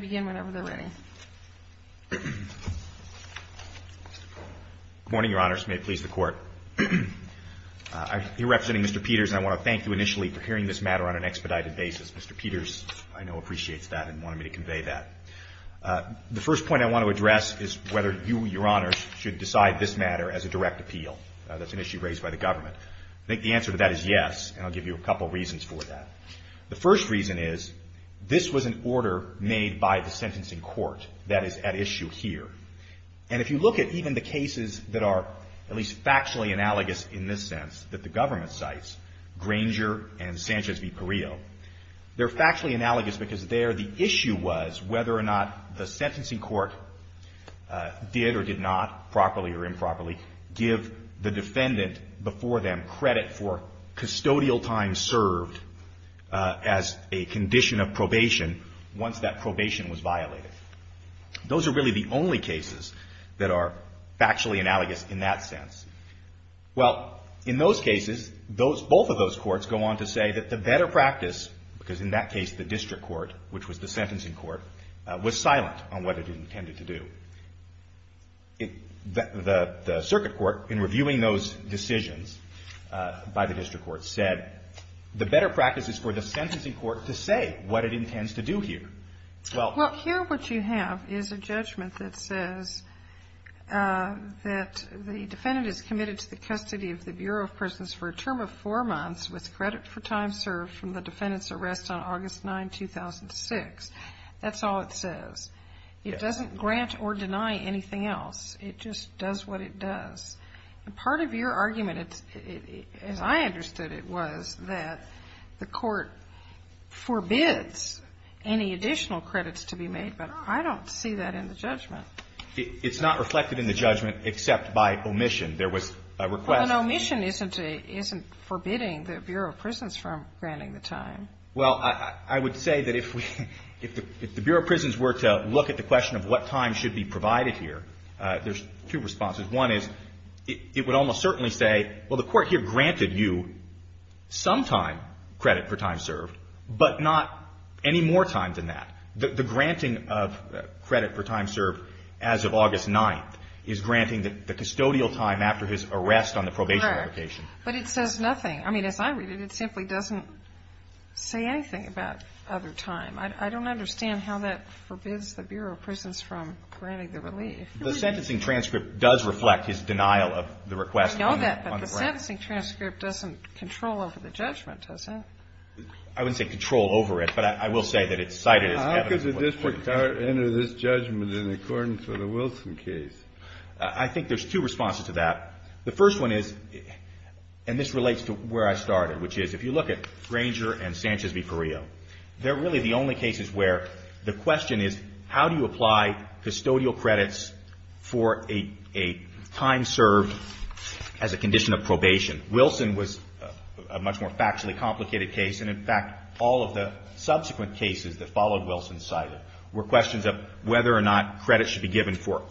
Good morning, Your Honors. May it please the Court. I am here representing Mr. Peters and I want to thank you initially for hearing this matter on an expedited basis. Mr. Peters, I know appreciates that and wanted me to convey that. The first point I want to address is whether you, Your Honors, should decide this matter as a direct appeal. That's an issue raised by the government. I think the answer to that is yes, and I'll give you a couple reasons for that. The first reason is this was an order made by the sentencing court that is at issue here. And if you look at even the cases that are at least factually analogous in this sense that the government cites, Granger and Sanchez v. Perillo, they're factually analogous because there the issue was whether or not the sentencing court did or did not, properly or improperly, give the defendant before them credit for custodial time served as a condition of probation once that probation was violated. Those are really the only cases that are factually analogous in that sense. Well, in those cases, both of those courts go on to say that the better practice, because in that case the district court, which was the sentencing court, was silent on what it intended to do. The circuit court, in reviewing those decisions by the district court, said the better practice is for the sentencing court to say what it intends to do here. Well, here what you have is a judgment that says that the defendant is committed to the custody of the Bureau of Prisons for a term of four months with credit for time served from the defendant's arrest on August 9, 2006. That's all it says. It doesn't grant or deny anything else. It just does what it does. And part of your argument, as I understood it, was that the court forbids any additional credits to be made, but I don't see that in the judgment. It's not reflected in the judgment except by omission. There was a request. Well, an omission isn't forbidding the Bureau of Prisons from granting the time. Well, I would say that if the Bureau of Prisons were to look at the question of what time should be provided here, there's two responses. One is it would almost certainly say, well, the court here granted you some time, credit for time served, but not any more time than that. The granting of credit for time served as of August 9 is granting the custodial time after his arrest on the probation application. Right. But it says nothing. I mean, as I read it, it simply doesn't say anything about other time. I don't understand how that forbids the Bureau of Prisons from granting the relief. The sentencing transcript does reflect his denial of the request on the ground. I know that, but the sentencing transcript doesn't control over the judgment, does it? I wouldn't say control over it, but I will say that it's cited as evident. How could the district court enter this judgment in accordance with a Wilson case? I think there's two responses to that. The first one is, and this relates to where I started, which is if you look at Granger and Sanchez v. Perillo, they're really the only cases where the question is, how do you apply custodial credits for a time served as a condition of probation? Wilson was a much more factually complicated case, and, in fact, all of the subsequent cases that followed Wilson's cited were questions of whether or not credit should be given for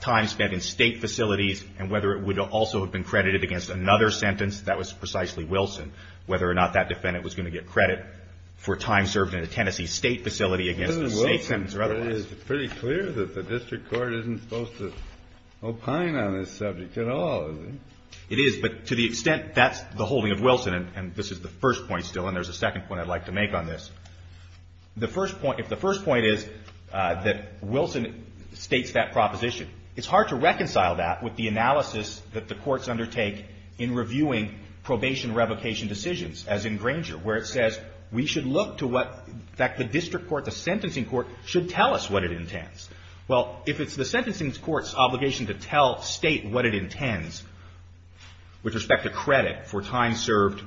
time spent in state facilities and whether it would also have been credited against another sentence, that was precisely Wilson, whether or not that defendant was going to get credit for time served in a Tennessee state facility against a state sentence or otherwise. Isn't Wilson pretty clear that the district court isn't supposed to opine on this subject at all, is it? It is, but to the extent that's the holding of Wilson, and this is the first point still, and there's a second point I'd like to make on this, the first point, if the first point is that Wilson states that proposition, it's hard to reconcile that with the analysis that the courts undertake in reviewing probation revocation decisions, as in Granger, where it says we should look to what, in fact, the district court, the sentencing court, should tell us what it intends. Well, if it's the sentencing court's obligation to tell state what it intends with respect to credit for time served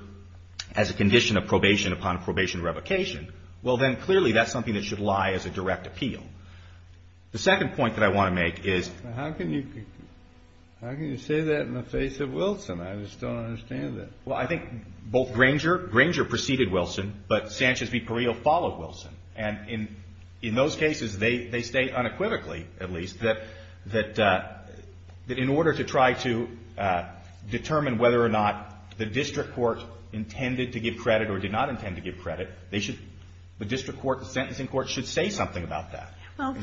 as a condition of probation upon a probation revocation, well, then clearly that's something that should lie as a direct appeal. The second point that I want to make is. How can you say that in the face of Wilson? I just don't understand that. Well, I think both Granger, Granger preceded Wilson, but Sanchez v. Sanchez, I think, said unequivocally, at least, that in order to try to determine whether or not the district court intended to give credit or did not intend to give credit, they should, the district court, the sentencing court, should say something about that. Well,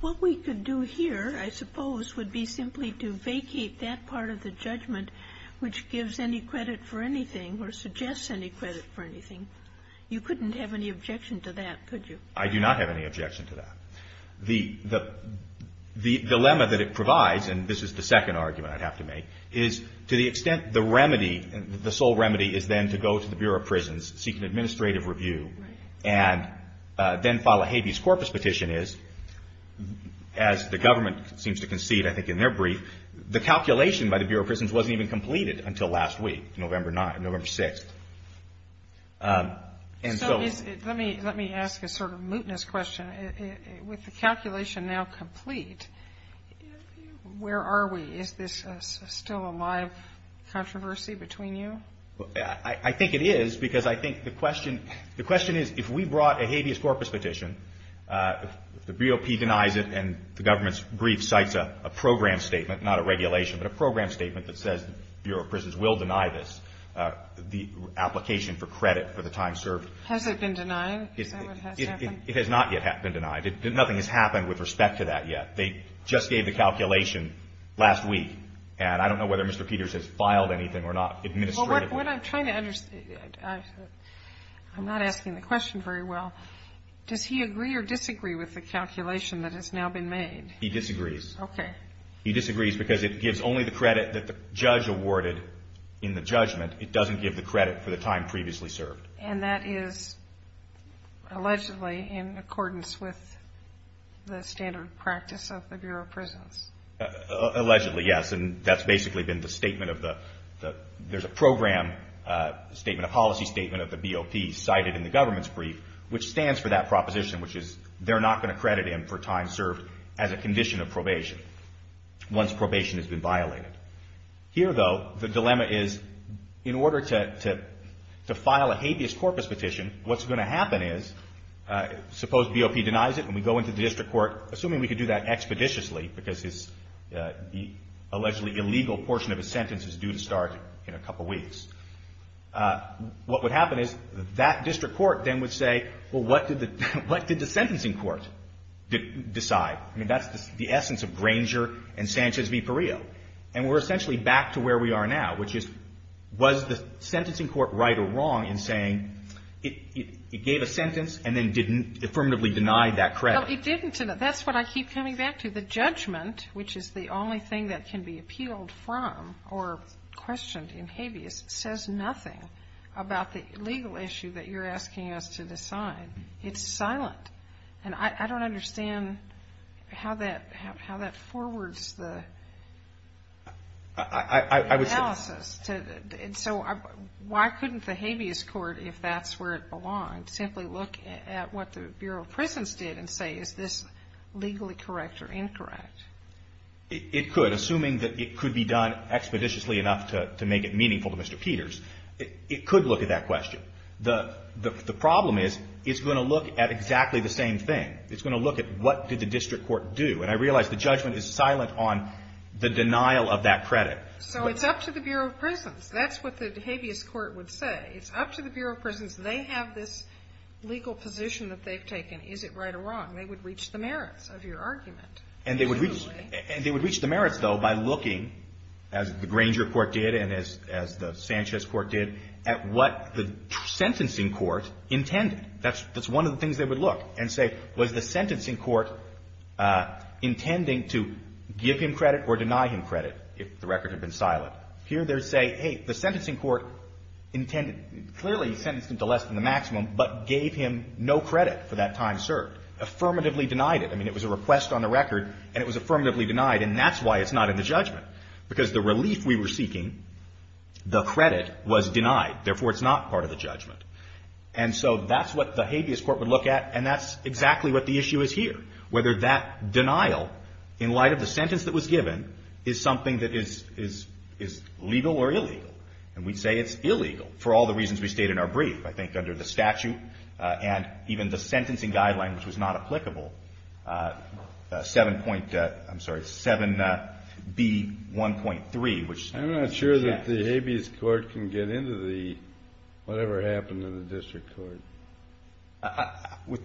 what we could do here, I suppose, would be simply to vacate that part of the judgment which gives any credit for anything or suggests any credit for anything. You couldn't have any objection to that, could you? I do not have any objection to that. The dilemma that it provides, and this is the second argument I'd have to make, is to the extent the remedy, the sole remedy, is then to go to the Bureau of Prisons, seek an administrative review, and then file a habeas corpus petition is, as the government seems to concede, I think, in their brief, the calculation by the Bureau of Prisons wasn't even completed until last week, November 6th. And so is it, let me, let me ask a sort of mootness question. With the calculation now complete, where are we? Is this still a live controversy between you? I think it is because I think the question, the question is if we brought a habeas corpus petition, the BOP denies it and the government's brief cites a program statement, not a regulation, but a program statement that says the Bureau of Prisons will deny this, the application for credit for the time served. Has it been denied? Is that what has happened? It has not yet been denied. Nothing has happened with respect to that yet. They just gave the calculation last week, and I don't know whether Mr. Peters has filed anything or not administratively. What I'm trying to understand, I'm not asking the question very well. Does he agree or disagree with the calculation that has now been made? He disagrees. Okay. He disagrees because it gives only the credit that the judge awarded in the judgment. It doesn't give the credit for the time previously served. And that is allegedly in accordance with the standard of practice of the Bureau of Prisons. Allegedly, yes. And that's basically been the statement of the, there's a program statement, a policy statement of the BOP cited in the government's brief, which stands for that proposition, which is they're not going to credit him for time served as a judge once probation has been violated. Here, though, the dilemma is in order to file a habeas corpus petition, what's going to happen is, suppose BOP denies it and we go into the district court, assuming we could do that expeditiously because his allegedly illegal portion of his sentence is due to start in a couple weeks, what would happen is that district court then would say, well, what did the sentencing court decide? I mean, that's the essence of Granger and Sanchez v. Perillo. And we're essentially back to where we are now, which is, was the sentencing court right or wrong in saying it gave a sentence and then didn't affirmatively deny that credit? Well, it didn't. And that's what I keep coming back to. The judgment, which is the only thing that can be appealed from or questioned in habeas, says nothing about the legal issue that you're asking us to decide. It's silent. And I don't understand how that, how that forwards the analysis to, so why couldn't the habeas court, if that's where it belonged, simply look at what the Bureau of Prisons did and say, is this legally correct or incorrect? It could, assuming that it could be done expeditiously enough to make it meaningful to Mr. Peters, it could look at that question. The, the, the problem is it's going to look at exactly the same thing. It's going to look at what did the district court do? And I realized the judgment is silent on the denial of that credit. So it's up to the Bureau of Prisons. That's what the habeas court would say. It's up to the Bureau of Prisons. They have this legal position that they've taken. Is it right or wrong? They would reach the merits of your argument. And they would reach, and they would reach the merits though, by looking as the Granger court did, and as, as the Sanchez court did, at what the sentencing court intended. That's, that's one of the things they would look and say, was the sentencing court intending to give him credit or deny him credit if the record had been silent? Here they're saying, hey, the sentencing court intended, clearly he sentenced him to less than the maximum, but gave him no credit for that time served. Affirmatively denied it. I mean, it was a request on the record and it was affirmatively denied. And that's why it's not in the judgment, because the relief we were seeking, the credit was denied. Therefore, it's not part of the judgment. And so that's what the habeas court would look at. And that's exactly what the issue is here. Whether that denial, in light of the sentence that was given, is something that is, is, is legal or illegal. And we'd say it's illegal for all the reasons we state in our brief. I think under the statute and even the sentencing guideline, which was not B1.3, which I'm not sure that the habeas court can get into the, whatever happened to the district court.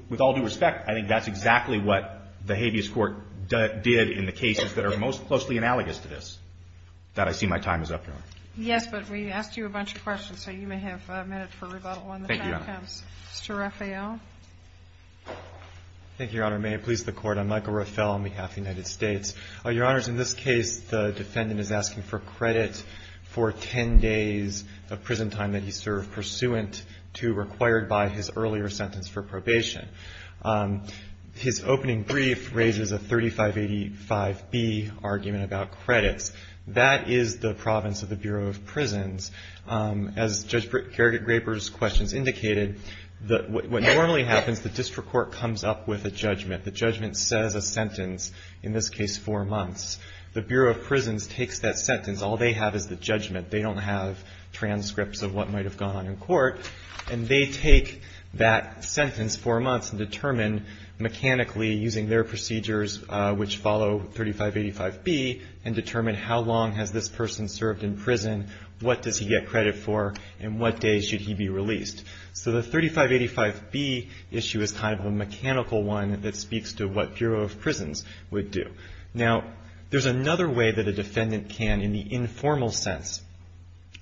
With all due respect, I think that's exactly what the habeas court did in the cases that are most closely analogous to this, that I see my time is up now. Yes. But we asked you a bunch of questions, so you may have a minute for rebuttal on the time stamps. Mr. Raphael. Thank you, Your Honor. May it please the court. I'm Michael Raphael on behalf of the United States. Your Honor, in this case, the defendant is asking for credit for 10 days of prison time that he served pursuant to required by his earlier sentence for probation. His opening brief raises a 3585B argument about credits. That is the province of the Bureau of Prisons. As Judge Gregory Graper's questions indicated, what normally happens, the district court comes up with a judgment. The judgment says a sentence, in this case, four months. The Bureau of Prisons takes that sentence. All they have is the judgment. They don't have transcripts of what might've gone on in court. And they take that sentence, four months, and determine mechanically using their procedures, which follow 3585B, and determine how long has this person served in prison, what does he get credit for, and what days should he be released? So the 3585B issue is kind of a mechanical one that speaks to what Bureau of Prisons would do. Now, there's another way that a defendant can, in the informal sense,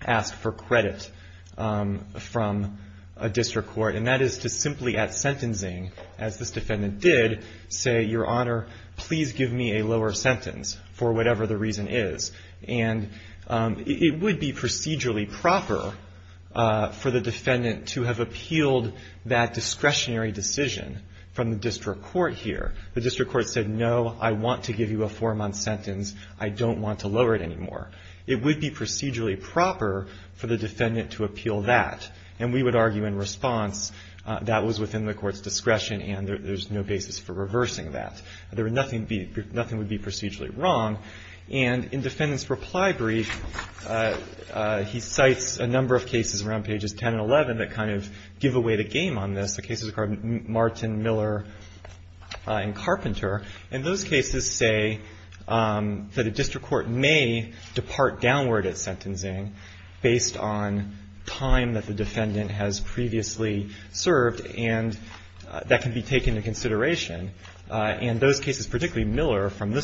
ask for credit from a district court, and that is to simply, at sentencing, as this defendant did, say, Your Honor, please give me a lower sentence for whatever the reason is. And it would be procedurally proper for the defendant to have appealed that discretionary decision from the district court here. The district court said, No, I want to give you a four-month sentence. I don't want to lower it anymore. It would be procedurally proper for the defendant to appeal that. And we would argue, in response, that was within the court's discretion, and there's no basis for reversing that. There would nothing be, nothing would be procedurally wrong. And in defendant's reply brief, he cites a number of cases around pages 10 and 11 that kind of give away the game on this. The cases are called Martin, Miller, and Carpenter. And those cases say that a district court may depart downward at sentencing based on time that the defendant has previously served, and that can be taken into So, a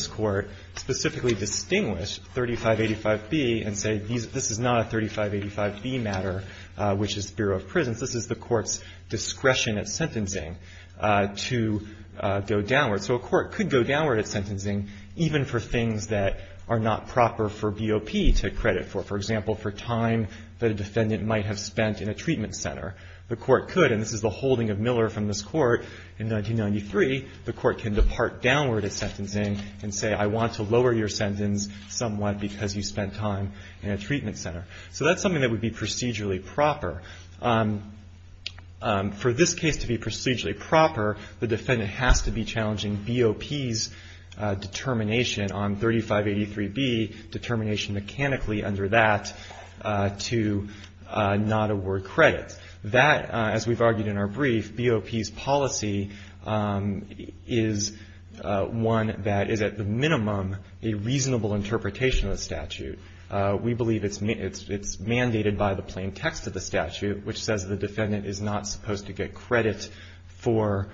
court could specifically distinguish 3585B and say, This is not a 3585B matter, which is the Bureau of Prisons. This is the court's discretion at sentencing to go downward. So, a court could go downward at sentencing even for things that are not proper for BOP to credit for. For example, for time that a defendant might have spent in a treatment center. The court could, and this is the holding of Miller from this court in 1993, the somewhat because you spent time in a treatment center. So, that's something that would be procedurally proper. For this case to be procedurally proper, the defendant has to be challenging BOP's determination on 3583B, determination mechanically under that, to not award credit. That, as we've argued in our brief, BOP's policy is one that is at the minimum a reasonable interpretation of the statute. We believe it's mandated by the plain text of the statute, which says the defendant is not supposed to get credit for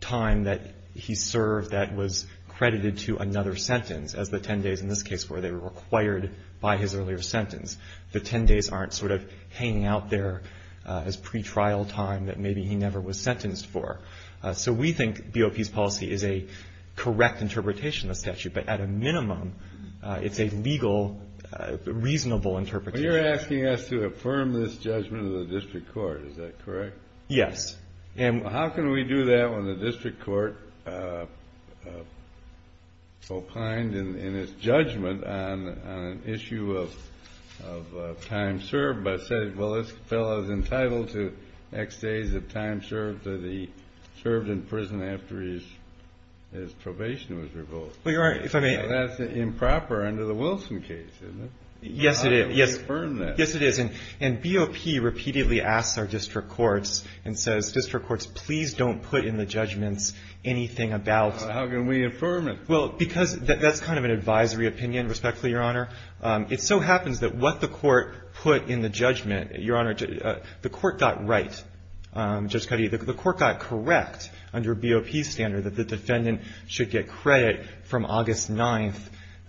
time that he served that was credited to another sentence, as the 10 days in this case where they were required by his earlier sentence. The 10 days aren't sort of hanging out there as pretrial time that maybe he never was sentenced for. So, we think BOP's policy is a correct interpretation of the statute, but at a minimum, it's a legal, reasonable interpretation. You're asking us to affirm this judgment of the district court, is that correct? Yes. And how can we do that when the district court opined in its judgment on an issue of time served, but said, well, this fellow is entitled to X days of time served that he served in prison after his probation was revoked? Well, Your Honor, if I may. That's improper under the Wilson case, isn't it? Yes, it is. Yes. How can we affirm that? Yes, it is. And BOP repeatedly asks our district courts and says, district courts, please don't put in the judgments anything about. How can we affirm it? Well, because that's kind of an advisory opinion, respectfully, Your Honor. It so happens that what the court put in the judgment, Your Honor, the court got right. Judge Cuddy, the court got correct under BOP standard that the defendant should get credit from August 9th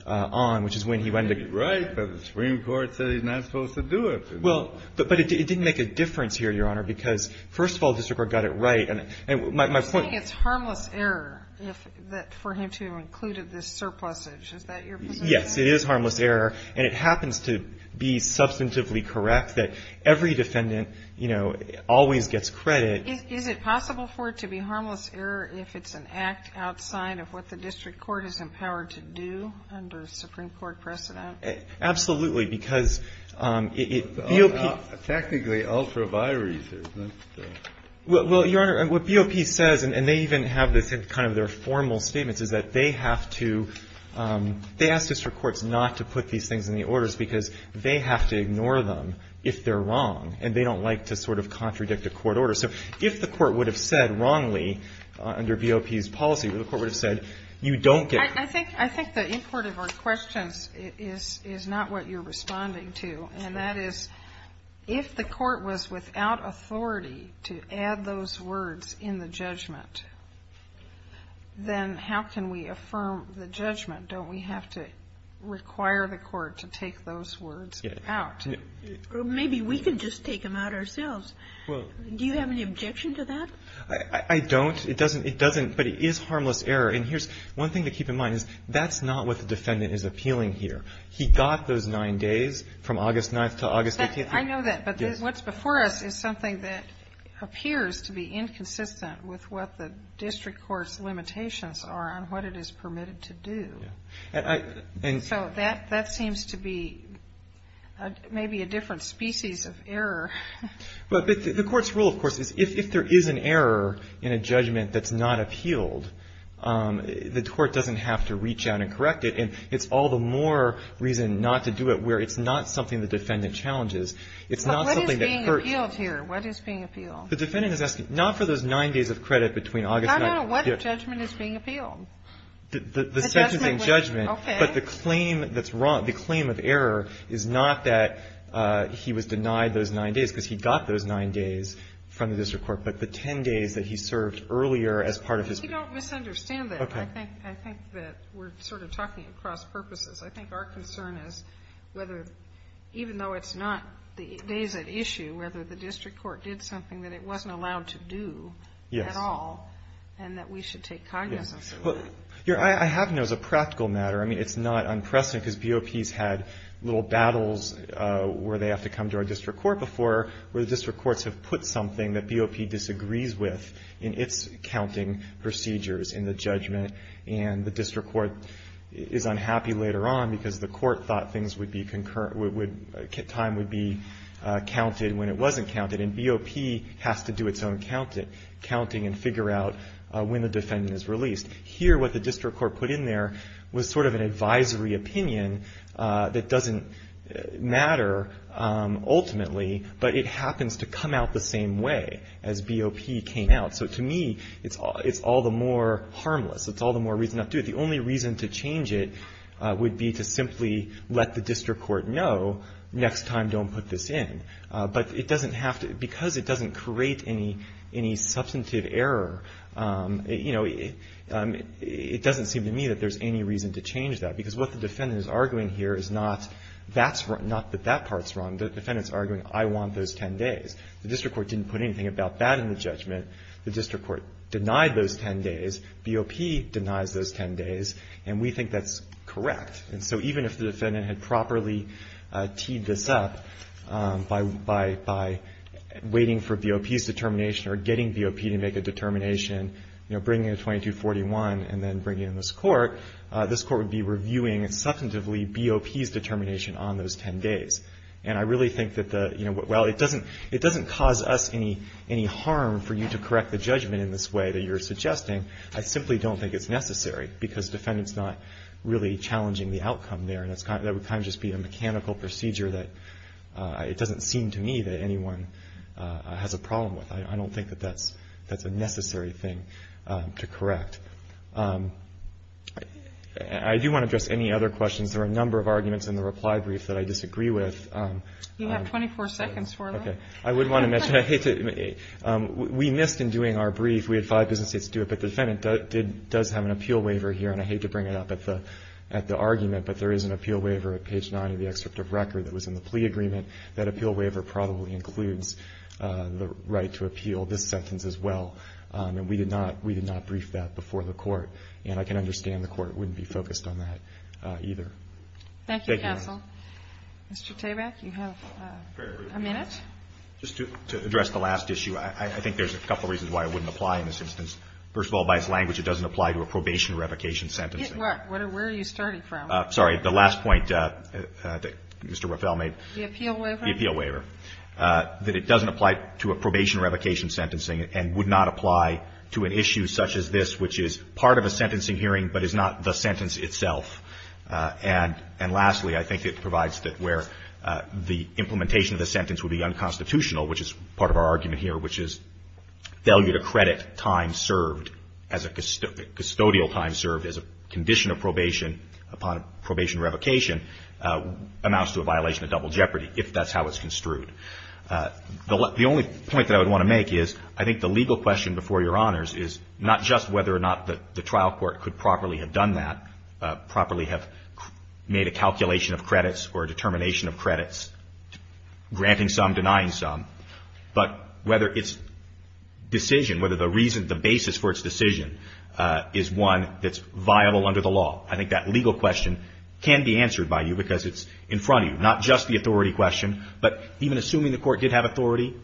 on, which is when he went to. Maybe right, but the Supreme Court said he's not supposed to do it. Well, but it didn't make a difference here, Your Honor, because first of all, the district court got it right. And my point. You're saying it's harmless error that for him to have included this surplusage. Is that your position? Yes, it is harmless error. And it happens to be substantively correct that every defendant, you know, always gets credit. Is it possible for it to be harmless error if it's an act outside of what the district court is empowered to do under a Supreme Court precedent? Absolutely. Because it, BOP. Technically, ultraviolet research. Well, Your Honor, what BOP says, and they even have this in kind of their formal statements, is that they have to, they ask district courts not to put these things in the orders because they have to ignore them if they're wrong, and they don't like to sort of contradict a court order. So if the court would have said wrongly under BOP's policy, the court would have said, you don't get credit. I think, I think the import of our questions is not what you're responding to, and that is, if the court was without authority to add those words in the And how can we affirm the judgment? Don't we have to require the court to take those words out? Well, maybe we can just take them out ourselves. Do you have any objection to that? I don't. It doesn't, it doesn't. But it is harmless error. And here's one thing to keep in mind is that's not what the defendant is appealing here. He got those nine days from August 9th to August 18th. I know that. But what's before us is something that appears to be inconsistent with what the district court's limitations are on what it is permitted to do. And I, and. So that, that seems to be maybe a different species of error. But the court's rule, of course, is if there is an error in a judgment that's not appealed, the court doesn't have to reach out and correct it. And it's all the more reason not to do it where it's not something the defendant challenges. It's not something that. But what is being appealed here? What is being appealed? The defendant is asking, not for those nine days of credit between August 9th. No, no, no. What judgment is being appealed? The sentence in judgment. Okay. But the claim that's wrong, the claim of error is not that he was denied those nine days because he got those nine days from the district court. But the ten days that he served earlier as part of his. You don't misunderstand that. Okay. I think, I think that we're sort of talking across purposes. I think our concern is whether, even though it's not the days at issue, whether the district court did something that it wasn't allowed to do. Yes. At all. And that we should take cognizance of that. Yes. Well, Your Honor, I have known as a practical matter. I mean, it's not unprecedented because BOP's had little battles where they have to come to our district court before, where the district courts have put something that BOP disagrees with in its counting procedures in the judgment, and the district court is unhappy later on because the court thought things would be concurrent with, time would be counted when it wasn't counted, and BOP has to do its own counting and figure out when the defendant is released. Here, what the district court put in there was sort of an advisory opinion that doesn't matter ultimately, but it happens to come out the same way as BOP came out. So to me, it's all, it's all the more harmless. It's all the more reason not to do it. The only reason to change it would be to simply let the district court know next time don't put this in. But it doesn't have to, because it doesn't create any substantive error, it doesn't seem to me that there's any reason to change that because what the defendant is arguing here is not that that part's wrong. The defendant's arguing, I want those 10 days. The district court didn't put anything about that in the judgment. The district court denied those 10 days. BOP denies those 10 days, and we think that's correct. And so even if the defendant had properly teed this up by waiting for BOP's determination or getting BOP to make a determination, you know, bringing it to 2241 and then bringing it in this court, this court would be reviewing substantively BOP's determination on those 10 days. And I really think that the, you know, while it doesn't cause us any harm for you to correct the judgment in this way that you're suggesting, I simply don't think it's necessary because defendant's not really challenging the outcome there. And that would kind of just be a mechanical procedure that, it doesn't seem to me that anyone has a problem with. I don't think that that's a necessary thing to correct. I do want to address any other questions. There are a number of arguments in the reply brief that I disagree with. You have 24 seconds for them. Okay. I would want to mention, I hate to, we missed in doing our brief, we had five business dates to do it, but the defendant does have an appeal waiver here. And I hate to bring it up at the argument, but there is an appeal waiver at page nine of the excerpt of record that was in the plea agreement. That appeal waiver probably includes the right to appeal this sentence as well. And we did not brief that before the court. And I can understand the court wouldn't be focused on that either. Thank you counsel. Mr. Tabak, you have a minute. Just to address the last issue, I think there's a couple reasons why I wouldn't apply in this instance. First of all, by its language, it doesn't apply to a probation revocation sentencing. Where are you starting from? Sorry. The last point that Mr. Raffel made. The appeal waiver? The appeal waiver. That it doesn't apply to a probation revocation sentencing and would not apply to an issue such as this, which is part of a sentencing hearing but is not the sentence itself. And lastly, I think it provides that where the implementation of the sentence would be unconstitutional, which is part of our argument here, which is failure to credit time served as a custodial time served as a condition of probation upon a probation revocation amounts to a violation of double jeopardy if that's how it's construed. The only point that I would want to make is I think the legal question before Your Honors is not just whether or not the trial court could properly have done that, properly have made a calculation of credits or a determination of credits, granting some, denying some, but whether its decision, whether the reason, the basis for its decision is one that's viable under the law. I think that legal question can be answered by you because it's in front of you, not just the authority question, but even assuming the court did have authority,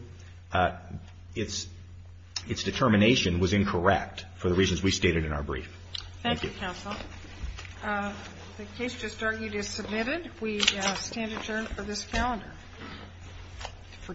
its determination was incorrect for the reasons we stated in our brief. Thank you. Thank you, counsel. The case just argued is submitted. We stand adjourned for this calendar for today.